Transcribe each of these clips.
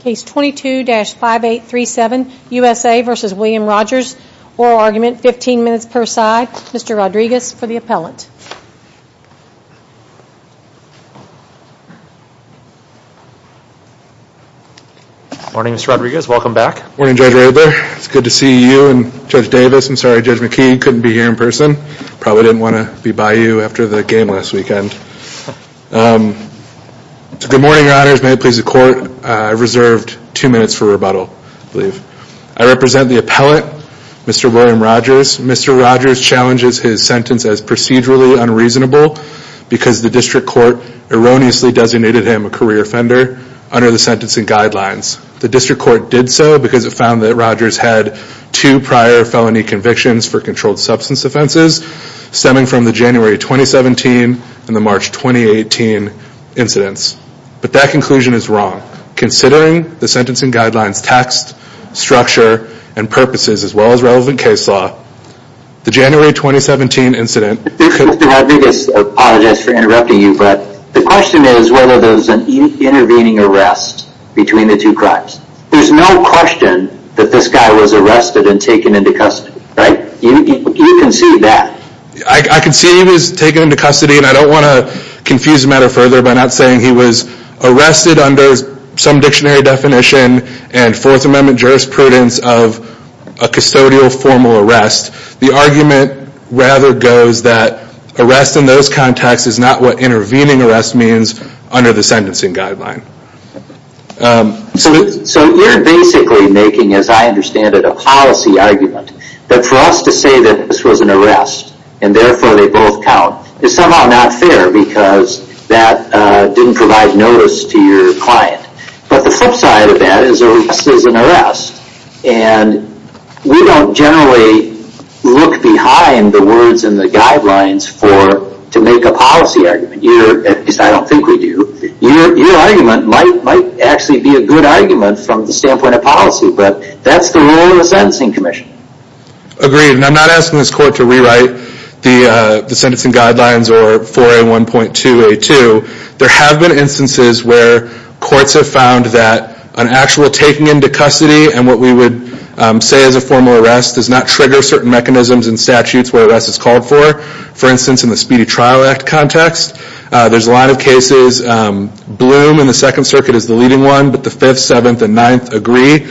Case 22-5837, USA v. William Rogers. Oral argument, 15 minutes per side. Mr. Rodriguez for the appellant. Morning, Mr. Rodriguez. Welcome back. Morning, Judge Roberts. It's good to see you and Judge Davis. I'm sorry, Judge McKee couldn't be here in person. Probably didn't want to be by you after the game last weekend. Good morning, your honors. May it please the court, I've reserved two minutes for rebuttal, I believe. I represent the appellant, Mr. William Rogers. Mr. Rogers challenges his sentence as procedurally unreasonable because the district court erroneously designated him a career offender under the sentencing guidelines. The district court did so because it found that Rogers had two prior felony convictions for controlled substance offenses, stemming from the January 2017 and the March 2018 incidents. But that conclusion is wrong. Considering the sentencing guidelines text, structure, and purposes, as well as relevant case law, the January 2017 incident... Mr. Rodriguez, I apologize for interrupting you, but the question is whether there's an intervening arrest between the two crimes. There's no question that this guy was arrested and taken into custody, right? You can see that. I can see he was taken into custody, and I don't want to confuse the matter further by not saying he was arrested under some dictionary definition and Fourth Amendment jurisprudence of a custodial formal arrest. The argument rather goes that arrest in those contexts is not what intervening arrest means under the sentencing guideline. So you're basically making, as I understand it, a policy argument that for us to say that this was an arrest, and therefore they both count, is somehow not fair because that didn't provide notice to your client. But the flip side of that is arrest is an arrest, and we don't generally look behind the words in the guidelines to make a policy argument. At least I don't think we do. Your argument might actually be a good argument from the standpoint of policy, but that's the role of the Sentencing Commission. Agreed, and I'm not asking this court to rewrite the sentencing guidelines or 4A1.2A2. There have been instances where courts have found that an actual taking into custody and what we would say is a formal arrest does not trigger certain mechanisms and statutes where arrest is called for. For instance, in the Speedy Trial Act context, there's a lot of cases, Bloom in the Second Circuit is the leading one, but the Fifth, Seventh, and Ninth agree.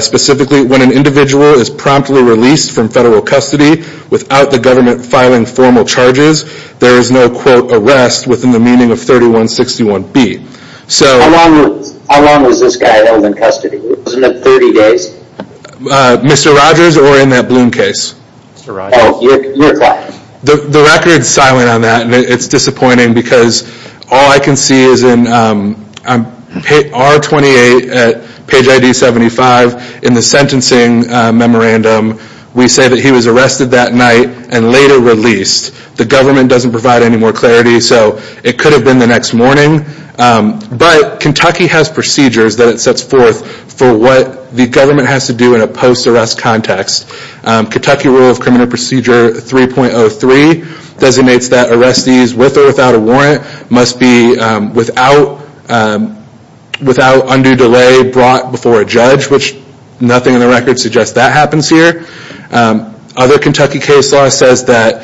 Specifically, when an individual is promptly released from federal custody without the government filing formal charges, there is no quote arrest within the meaning of 3161B. How long was this guy held in custody? Wasn't it 30 days? Mr. Rogers or in that Bloom case? Oh, your client. The record is silent on that, and it's disappointing because all I can see is in R28 at page ID 75 in the sentencing memorandum, we say that he was arrested that night and later released. The government doesn't provide any more clarity, so it could have been the next morning, but Kentucky has procedures that it sets forth for what the government has to do in a post-arrest context. Kentucky Rule of Criminal Procedure 3.03 designates that arrestees with or without a warrant must be without undue delay brought before a judge, which nothing in the record suggests that happens here. Other Kentucky case law says that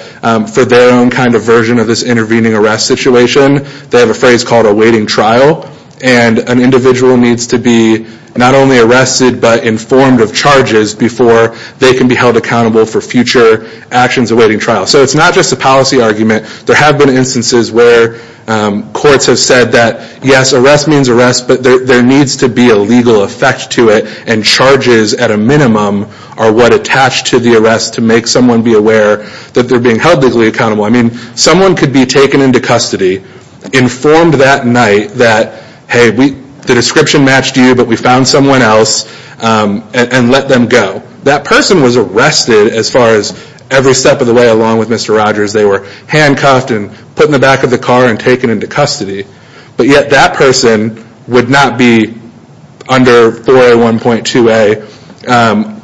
for their own kind of version of this intervening arrest situation, they have a phrase called a waiting trial, and an individual needs to be not only arrested but informed of charges before they can be held accountable for future actions awaiting trial. So it's not just a policy argument. There have been instances where courts have said that, yes, arrest means arrest, but there needs to be a legal effect to it, and charges at a minimum are what attach to the arrest to make someone be aware that they're being held legally accountable. I mean, someone could be taken into custody, informed that night that, hey, the description matched you, but we found someone else, and let them go. That person was arrested as far as every step of the way, along with Mr. Rogers. They were handcuffed and put in the back of the car and taken into custody, but yet that person would not be under 4A1.2A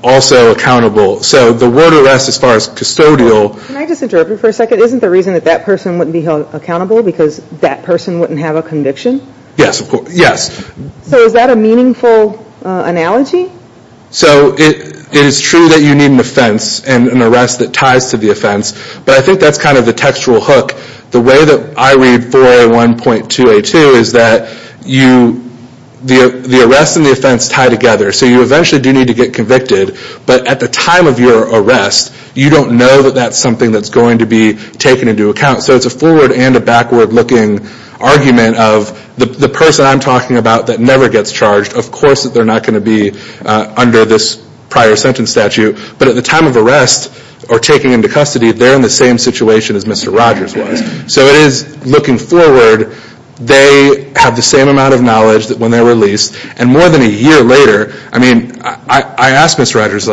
also accountable. So the word arrest as far as custodial... Can I just interrupt you for a second? Isn't the reason that that person wouldn't be held accountable because that person wouldn't have a conviction? Yes, of course. Yes. So is that a meaningful analogy? So it is true that you need an offense and an arrest that ties to the offense, but I think that's kind of the textual hook. The way that I read 4A1.2A2 is that the arrest and the offense tie together. So you eventually do need to get convicted, but at the time of your arrest, you don't know that that's something that's going to be taken into account. So it's a forward and a backward looking argument of the person I'm talking about that never gets charged, of course that they're not going to be under this prior sentence statute. But at the time of arrest or taking into custody, they're in the same situation as Mr. Rogers was. So it is looking forward, they have the same amount of knowledge that when they're released, and more than a year later, I mean, I asked Mr. Rogers,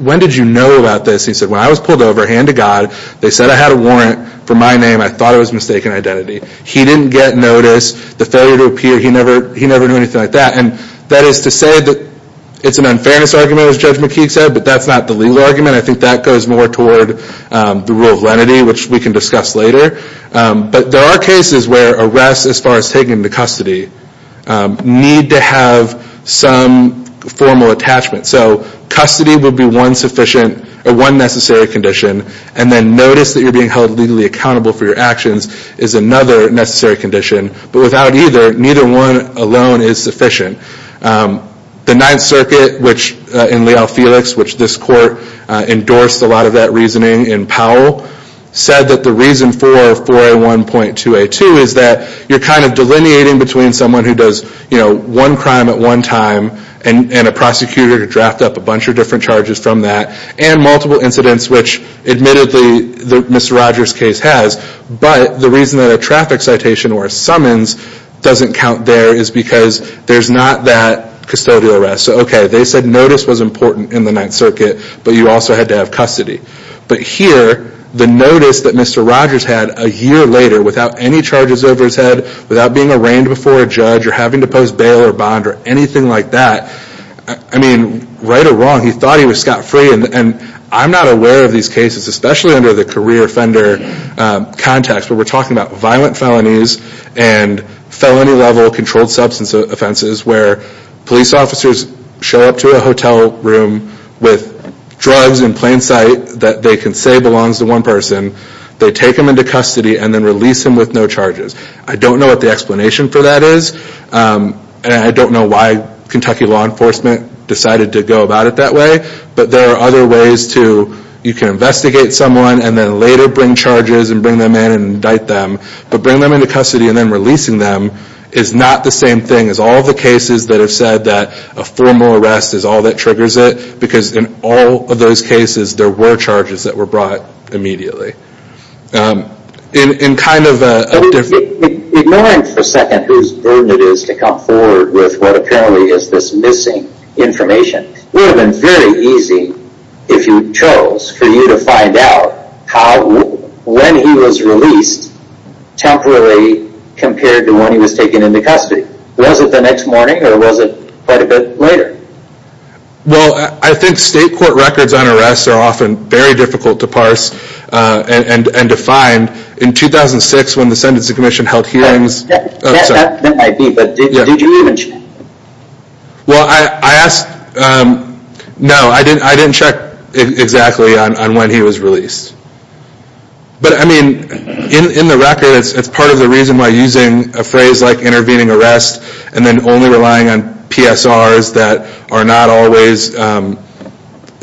when did you know about this? He said, when I was pulled over, hand to God, they said I had a warrant for my name. I thought it was mistaken identity. He didn't get notice, the failure to appear, he never knew anything like that. And that is to say that it's an unfairness argument, as Judge McKeague said, but that's not the legal argument. I think that goes more toward the rule of lenity, which we can discuss later. But there are cases where arrests, as far as taking into custody, need to have some formal attachment. So custody would be one sufficient, or one necessary condition. And then notice that you're being held legally accountable for your actions is another necessary condition. But without either, neither one alone is sufficient. The Ninth Circuit, which in Leal-Felix, which this court endorsed a lot of that reasoning in Powell, said that the reason for 4A1.2A2 is that you're kind of delineating between someone who does one crime at one time, and a prosecutor to draft up a bunch of different charges from that, and multiple incidents, which admittedly, Mr. Rogers' case has. But the reason that a traffic citation or a summons doesn't count there is because there's not that custodial arrest. So okay, they said notice was important in the Ninth Circuit, but you also had to have custody. But here, the notice that Mr. Rogers had a year later, without any charges over his head, without being arraigned before a judge, or having to pose bail or bond, or anything like that. I mean, right or wrong, he thought he was scot-free. And I'm not aware of these cases, especially under the career offender context, where we're talking about violent felonies and felony level controlled substance offenses, where police officers show up to a hotel room with drugs in plain sight that they can say belongs to one person. They take him into custody and then release him with no charges. I don't know what the explanation for that is. And I don't know why Kentucky law enforcement decided to go about it that way. But there are other ways to, you can investigate someone, and then later bring charges and bring them in and indict them. But bring them into custody and then releasing them is not the same thing as all the cases that have said that a formal arrest is all that triggers it. Because in all of those cases, there were charges that were brought immediately. Ignoring for a second who's burden it is to come forward with what apparently is this missing information, it would have been very easy if you chose for you to find out how, when he was released, temporarily compared to when he was taken into custody. Was it the next morning or was it quite a bit later? Well, I think state court records on arrests are often very difficult to parse. And to find, in 2006 when the Sentencing Commission held hearings. That might be, but did you even check? Well, I asked, no, I didn't check exactly on when he was released. But I mean, in the record, it's part of the reason why using a phrase like intervening arrest and then only relying on PSRs that are not always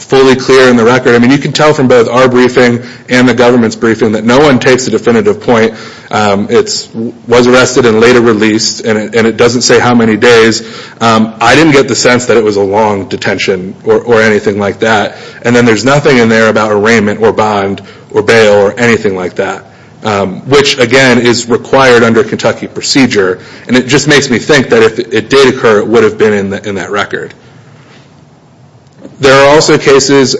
fully clear in the record. You can tell from both our briefing and the government's briefing that no one takes a definitive point. It was arrested and later released and it doesn't say how many days. I didn't get the sense that it was a long detention or anything like that. And then there's nothing in there about arraignment or bond or bail or anything like that. Which again, is required under Kentucky procedure. And it just makes me think that if it did occur, it would have been in that record. There are also cases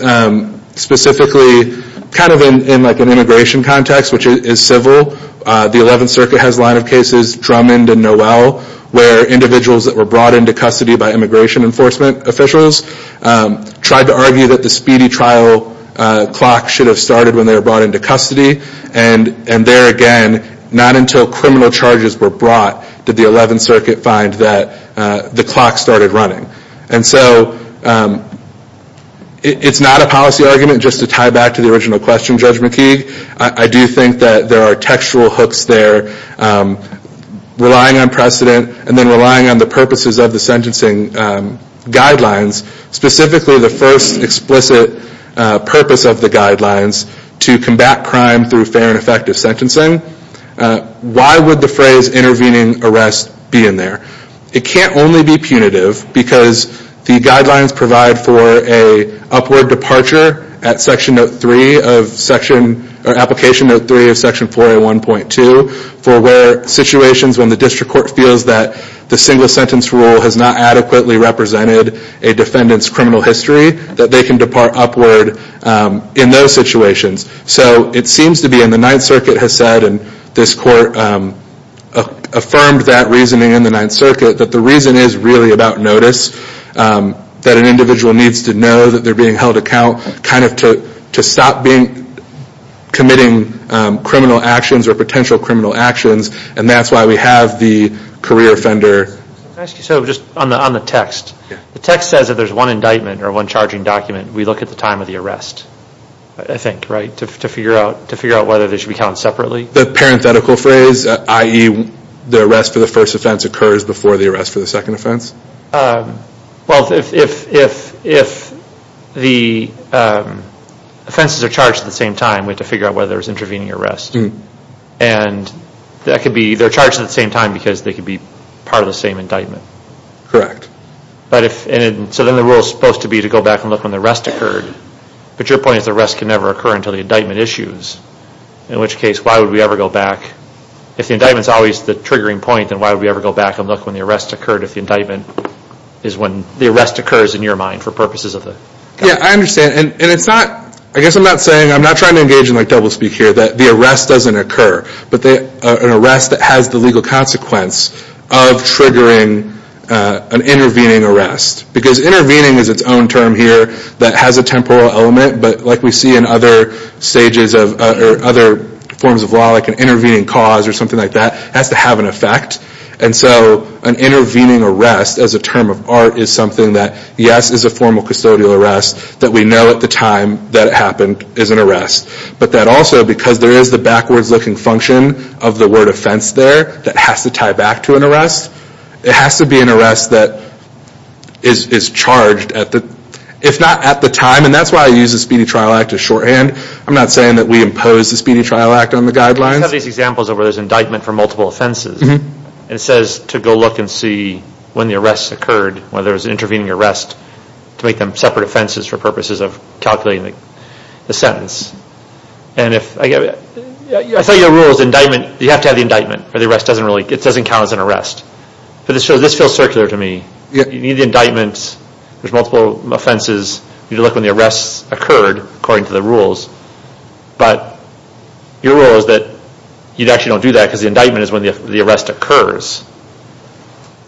specifically, kind of in like an immigration context, which is civil. The 11th Circuit has a line of cases, Drummond and Noel, where individuals that were brought into custody by immigration enforcement officials tried to argue that the speedy trial clock should have started when they were brought into custody. And there again, not until criminal charges were brought, did the 11th Circuit find that the clock started running. And so, it's not a policy argument just to tie back to the original question, Judge McKeague. I do think that there are textual hooks there. Relying on precedent and then relying on the purposes of the sentencing guidelines. Specifically, the first explicit purpose of the guidelines to combat crime through fair and effective sentencing. Why would the phrase intervening arrest be in there? It can't only be punitive because the guidelines provide for a upward departure at Section Note 3 of Section, or Application Note 3 of Section 4A1.2. For where situations when the district court feels that the single sentence rule has not adequately represented a defendant's criminal history, that they can depart upward in those situations. So, it seems to be in the 9th Circuit has said, and this court affirmed that reasoning in the 9th Circuit, that the reason is really about notice. That an individual needs to know that they're being held account, kind of to stop committing criminal actions or potential criminal actions. And that's why we have the career offender. Can I ask you, so just on the text. The text says that there's one indictment or one charging document. We look at the time of the arrest. I think, right? To figure out whether they should be counted separately? The parenthetical phrase, i.e., the arrest for the first offense occurs before the arrest for the second offense? Well, if the offenses are charged at the same time, we have to figure out whether there's intervening arrest. And that could be, they're charged at the same time because they could be part of the same indictment. Correct. But if, so then the rule is supposed to be to go back and look when the arrest occurred. But your point is the arrest can never occur until the indictment issues. In which case, why would we ever go back? If the indictment's always the triggering point, then why would we ever go back and look when the arrest occurred if the indictment is when the arrest occurs in your mind for purposes of the... Yeah, I understand. And it's not, I guess I'm not saying, I'm not trying to engage in like doublespeak here, that the arrest doesn't occur. But an arrest that has the legal consequence of triggering an intervening arrest. Because intervening is its own term here that has a temporal element. But like we see in other stages of, or other forms of law, like an intervening cause or something like that, has to have an effect. And so an intervening arrest as a term of art is something that, yes, is a formal custodial arrest that we know at the time that it happened is an arrest. But that also because there is the backwards looking function of the word offense there that has to tie back to an arrest. It has to be an arrest that is charged at the, if not at the time. And that's why I use the Speedy Trial Act as shorthand. I'm not saying that we impose the Speedy Trial Act on the guidelines. You have these examples of where there's indictment for multiple offenses. It says to go look and see when the arrest occurred, whether it was an intervening arrest, to make them separate offenses for purposes of calculating the sentence. And if, I thought your rule was indictment, you have to have the indictment or the arrest doesn't really, it doesn't count as an arrest. But this feels circular to me. You need the indictments. There's multiple offenses. You need to look when the arrests occurred according to the rules. But your rule is that you'd actually don't do that because the indictment is when the arrest occurs.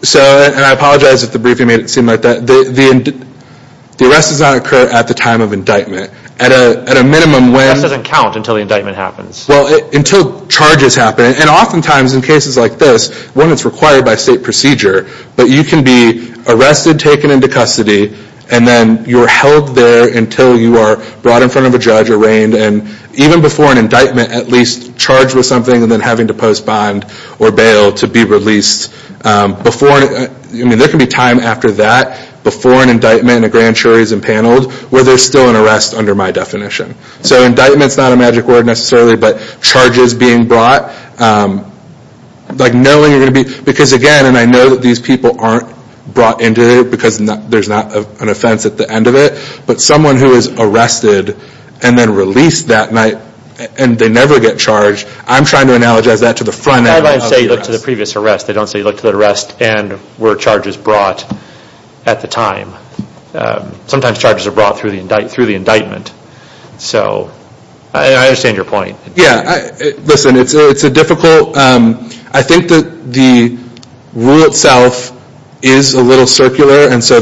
So, and I apologize if the briefing made it seem like that. The arrest does not occur at the time of indictment. At a minimum when... That doesn't count until the indictment happens. Well, until charges happen. And oftentimes in cases like this, when it's required by state procedure, but you can be arrested, taken into custody, and then you're held there until you are brought in front of a judge, arraigned, and even before an indictment, at least charged with something and then having to postpone or bail to be released. Before, I mean, there can be time after that, before an indictment and a grand jury is impaneled, where there's still an arrest under my definition. So indictment's not a magic word necessarily, but charges being brought, like knowing you're going to be... Because again, and I know that these people aren't brought into it because there's not an offense at the end of it, but someone who is arrested and then released that night, and they never get charged, I'm trying to analogize that to the front end of the arrest. How about you say you look to the previous arrest? They don't say you look to the arrest and were charges brought at the time. Sometimes charges are brought through the indictment. So, I understand your point. Yeah, listen, it's a difficult... I think that the rule itself is a little circular, and so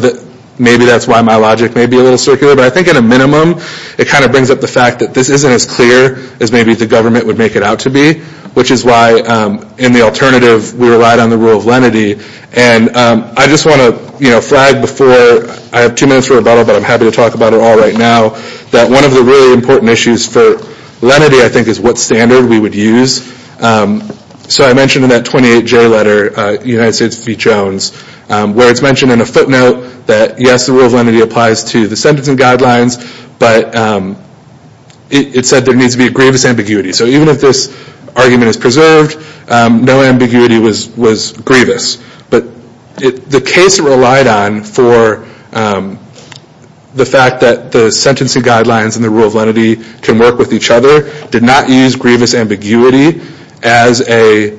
maybe that's why my logic may be a little circular, but I think at a minimum, it kind of brings up the fact that this isn't as clear as maybe the government would make it out to be, which is why in the alternative, we relied on the rule of lenity. And I just want to flag before, I have two minutes for rebuttal, but I'm happy to talk about it all right now, that one of the really important issues for lenity, I think is what standard we would use and so I mentioned in that 28-J letter, United States v. Jones, where it's mentioned in a footnote that yes, the rule of lenity applies to the sentencing guidelines, but it said there needs to be grievous ambiguity. So even if this argument is preserved, no ambiguity was grievous, but the case relied on for the fact that the sentencing guidelines and the rule of lenity can work with each other, did not use grievous ambiguity as a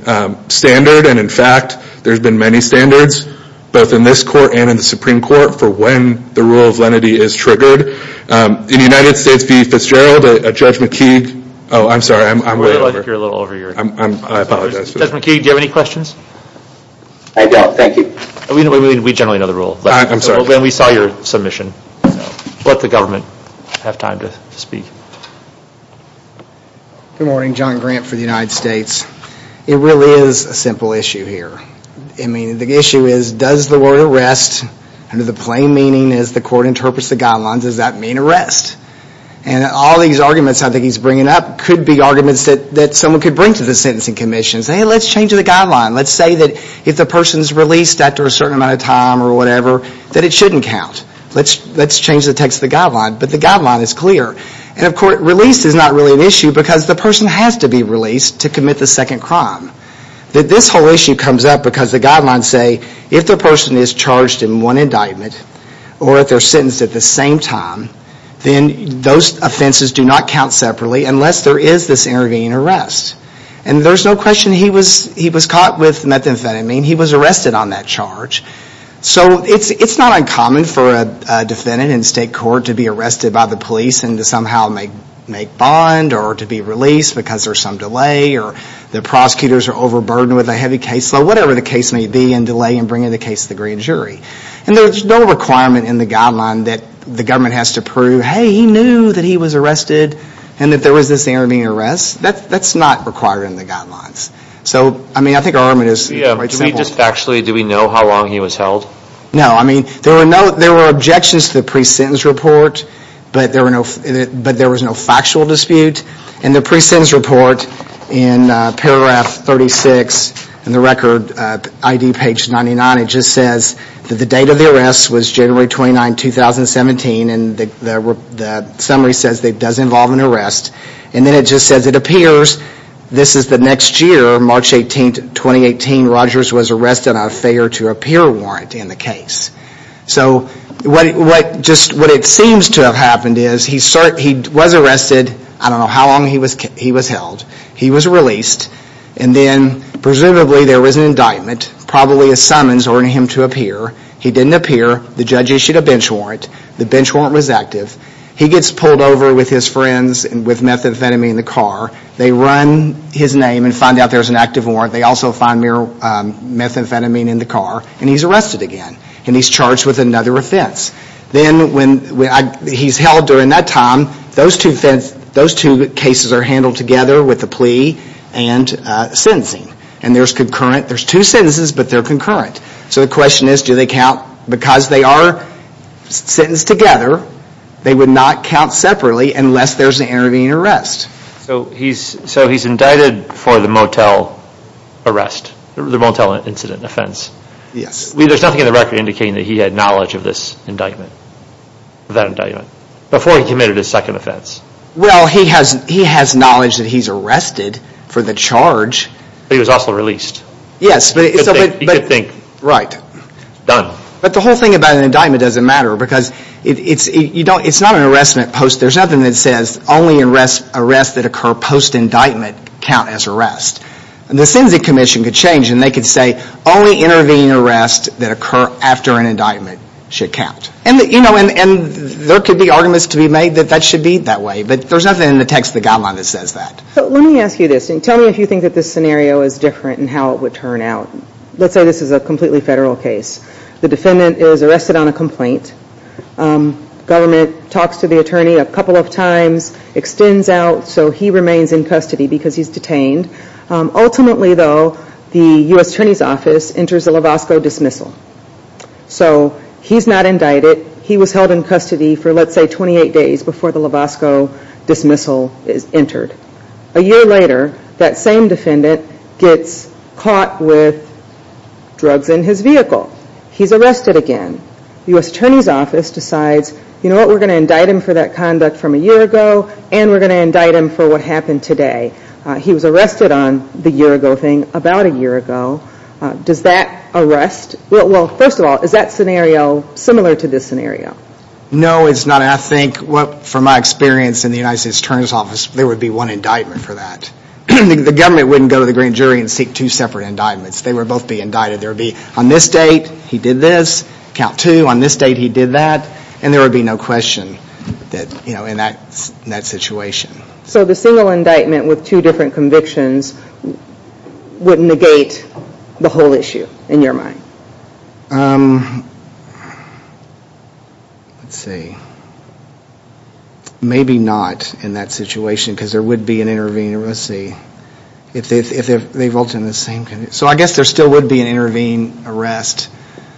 standard and in fact, there's been many standards, both in this court and in the Supreme Court for when the rule of lenity is triggered. In United States v. Fitzgerald, Judge McKeague, oh, I'm sorry, I'm way over. I think you're a little over here. I apologize for that. Judge McKeague, do you have any questions? I don't, thank you. We generally know the rule. I'm sorry. When we saw your submission, let the government have time to speak. Good morning. John Grant for the United States. It really is a simple issue here. I mean, the issue is, does the word arrest, under the plain meaning as the court interprets the guidelines, does that mean arrest? And all these arguments I think he's bringing up could be arguments that someone could bring to the sentencing commissions. Hey, let's change the guideline. Let's say that if the person's released after a certain amount of time or whatever, that it shouldn't count. Let's change the text of the guideline, but the guideline is clear. And of course, release is not really an issue, because the person has to be released to commit the second crime. This whole issue comes up because the guidelines say, if the person is charged in one indictment or if they're sentenced at the same time, then those offenses do not count separately unless there is this intervening arrest. And there's no question he was caught with methamphetamine. He was arrested on that charge. So it's not uncommon for a defendant in state court to be arrested by the police and to somehow make bond or to be released because there's some delay or the prosecutors are overburdened with a heavy case. So whatever the case may be, and delay in bringing the case to the grand jury. And there's no requirement in the guideline that the government has to prove, hey, he knew that he was arrested and that there was this intervening arrest. That's not required in the guidelines. So, I mean, I think our argument is... Yeah, do we just factually, do we know how long he was held? No, I mean, there were objections to the pre-sentence report, but there was no factual dispute. And the pre-sentence report in paragraph 36 in the record, ID page 99, it just says that the date of the arrest was January 29, 2017. And the summary says that it does involve an arrest. And then it just says, it appears this is the next year, March 18th, 2018. Rogers was arrested on a failure to appear warrant in the case. So what it seems to have happened is he was arrested, I don't know how long he was held. He was released. And then presumably there was an indictment, probably a summons ordering him to appear. He didn't appear. The judge issued a bench warrant. The bench warrant was active. He gets pulled over with his friends and with methamphetamine in the car. They run his name and find out there's an active warrant. They also find methamphetamine in the car. And he's arrested again. And he's charged with another offense. Then when he's held during that time, those two cases are handled together with a plea and sentencing. And there's two sentences, but they're concurrent. So the question is, do they count? Because they are sentenced together, they would not count separately unless there's an intervening arrest. So he's indicted for the motel arrest, the motel incident offense. Yes. There's nothing in the record indicating that he had knowledge of this indictment, that indictment, before he committed his second offense. Well, he has knowledge that he's arrested for the charge. But he was also released. Yes. You could think. Right. Done. But the whole thing about an indictment doesn't matter because it's not an arrestment post. There's nothing that says only arrests that occur post-indictment count as arrest. The Sentencing Commission could change and they could say, only intervening arrests that occur after an indictment should count. And there could be arguments to be made that that should be that way. But there's nothing in the text of the guideline that says that. So let me ask you this. Tell me if you think that this scenario is different and how it would turn out. Let's say this is a completely federal case. The defendant is arrested on a complaint. Government talks to the attorney a couple of times, extends out. So he remains in custody because he's detained. Ultimately, though, the U.S. Attorney's Office enters a Lavosko dismissal. So he's not indicted. He was held in custody for let's say 28 days before the Lavosko dismissal is entered. A year later, that same defendant gets caught with drugs in his vehicle. He's arrested again. The U.S. Attorney's Office decides, you know what, we're going to indict him for that conduct from a year ago and we're going to indict him for what happened today. He was arrested on the year ago thing about a year ago. Does that arrest? Well, first of all, is that scenario similar to this scenario? No, it's not. I think from my experience in the U.S. Attorney's Office, there would be one indictment for that. The government wouldn't go to the grand jury and seek two separate indictments. They would both be indicted. There would be on this date, he did this. Count two, on this date, he did that. And there would be no question in that situation. So the single indictment with two different convictions would negate the whole issue in your mind? Um, let's see. Maybe not in that situation because there would be an intervening arrest. Let's see, if they've all done the same. So I guess there still would be an intervening arrest.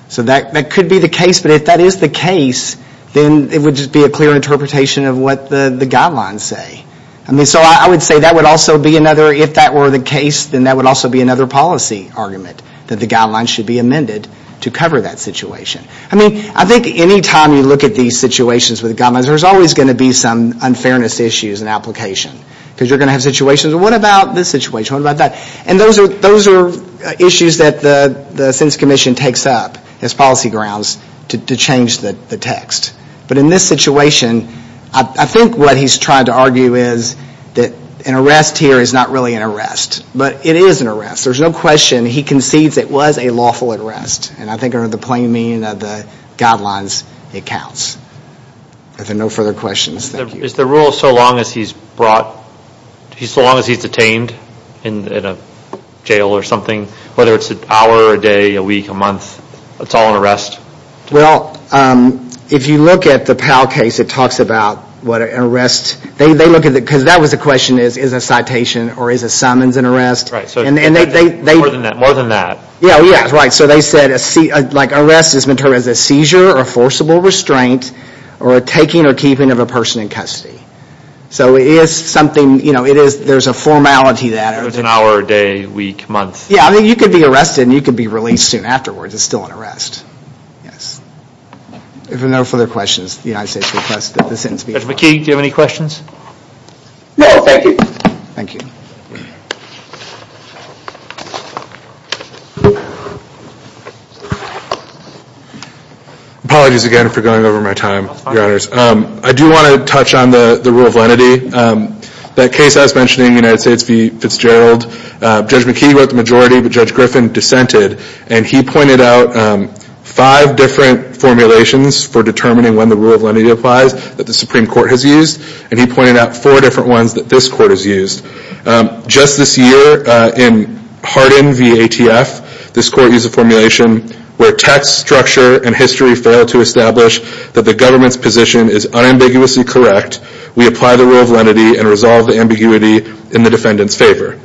So that could be the case. But if that is the case, then it would just be a clear interpretation of what the guidelines say. I mean, so I would say that would also be another, if that were the case, then that would also be another policy argument that the guidelines should be amended to cover that situation. I mean, I think any time you look at these situations with the guidelines, there's always going to be some unfairness issues in application. Because you're going to have situations, well, what about this situation? What about that? And those are issues that the sentence commission takes up as policy grounds to change the text. But in this situation, I think what he's trying to argue is that an arrest here is not really an arrest. But it is an arrest. There's no question he concedes it was a lawful arrest. And I think under the plain meaning of the guidelines, it counts. Are there no further questions? Thank you. Is the rule so long as he's brought, so long as he's detained in a jail or something, whether it's an hour or a day, a week, a month, it's all an arrest? Well, if you look at the Powell case, it talks about what an arrest, they look at it because that was the question is, is a citation or is a summons an arrest? And they were more than that. Yeah, yeah, right. So they said like arrest has been termed as a seizure or forcible restraint or a taking or keeping of a person in custody. So it is something, you know, it is, there's a formality that it was an hour, day, week, month. Yeah, I mean, you could be arrested and you could be released soon afterwards. It's still an arrest. Yes. If there are no further questions, the United States request that the sentence be. Mr. McKee, do you have any questions? No, thank you. Thank you. Apologies again for going over my time, I do want to touch on the rule of lenity. That case I was mentioning United States v Fitzgerald, Judge McKee wrote the majority, but Judge Griffin dissented. And he pointed out five different formulations for determining when the rule of lenity applies that the Supreme Court has used. And he pointed out four different ones that this court has used. Just this year in Hardin v ATF, this court used a formulation where text structure and history fail to establish that the government's position is unambiguously correct. We apply the rule of lenity and resolve the ambiguity in the defendant's favor.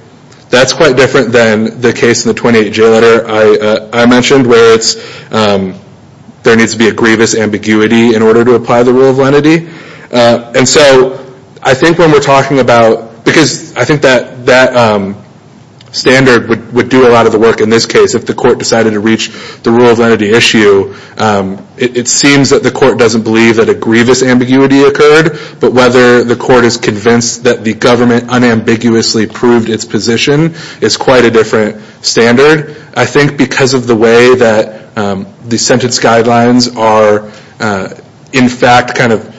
That's quite different than the case in the 28-J letter I mentioned where it's, there needs to be a grievous ambiguity in order to apply the rule of lenity. And so I think when we're talking about, because I think that standard would do a lot of the work in this case if the court decided to reach the rule of lenity issue. It seems that the court doesn't believe that a grievous ambiguity occurred, but whether the court is convinced that the government unambiguously proved its position is quite a different standard. I think because of the way that the sentence guidelines are in fact kind of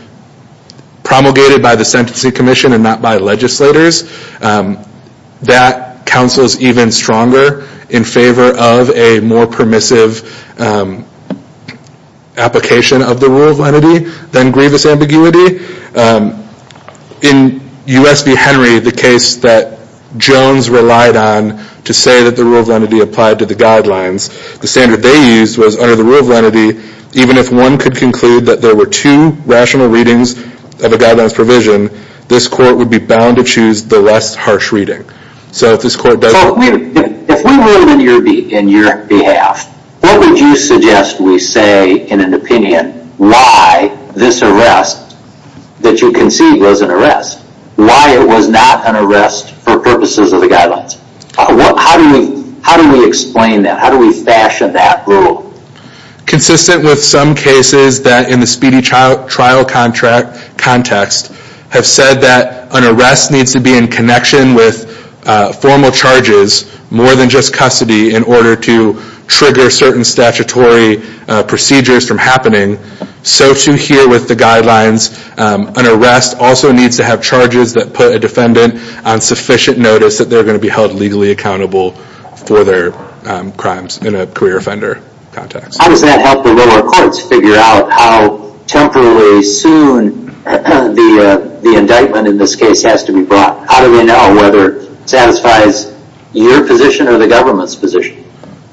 promulgated by the Sentencing Commission and not by legislators, that counsel is even stronger in favor of a more permissive application of the rule of lenity than grievous ambiguity. In U.S. v. Henry, the case that Jones relied on to say that the rule of lenity applied to the guidelines, the standard they used was under the rule of lenity, even if one could conclude that there were two rational readings of a guidelines provision, this court would be bound to choose the less harsh reading. So if this court does... So if we were in your behalf, what would you suggest we say in an opinion why this arrest that you concede was an arrest? Why it was not an arrest for purposes of the guidelines? How do we explain that? How do we fashion that rule? Consistent with some cases that in the speedy trial context have said that an arrest needs to be in connection with formal charges more than just custody in order to trigger certain statutory procedures from happening. So to hear with the guidelines, an arrest also needs to have charges that put a defendant on sufficient notice that they're gonna be held legally accountable for their crimes in a career offender context. How does that help the lower courts figure out how temporarily soon the indictment in this case has to be brought? How do we know whether it satisfies your position or the government's position?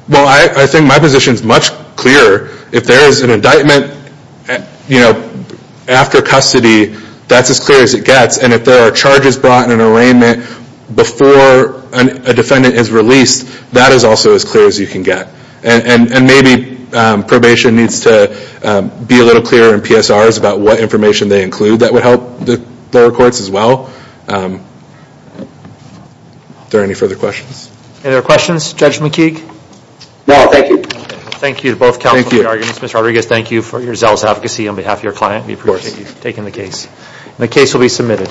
Well, I think my position is much clearer. If there is an indictment after custody, that's as clear as it gets. And if there are charges brought in an arraignment before a defendant is released, that is also as clear as you can get. And maybe probation needs to be a little clearer in PSRs about what information they include that would help the lower courts as well. Is there any further questions? Any other questions? Judge McKeague? No, thank you. Thank you to both counsel for your arguments. Mr. Rodriguez, thank you for your zealous advocacy on behalf of your client. We appreciate you taking the case. And the case will be submitted.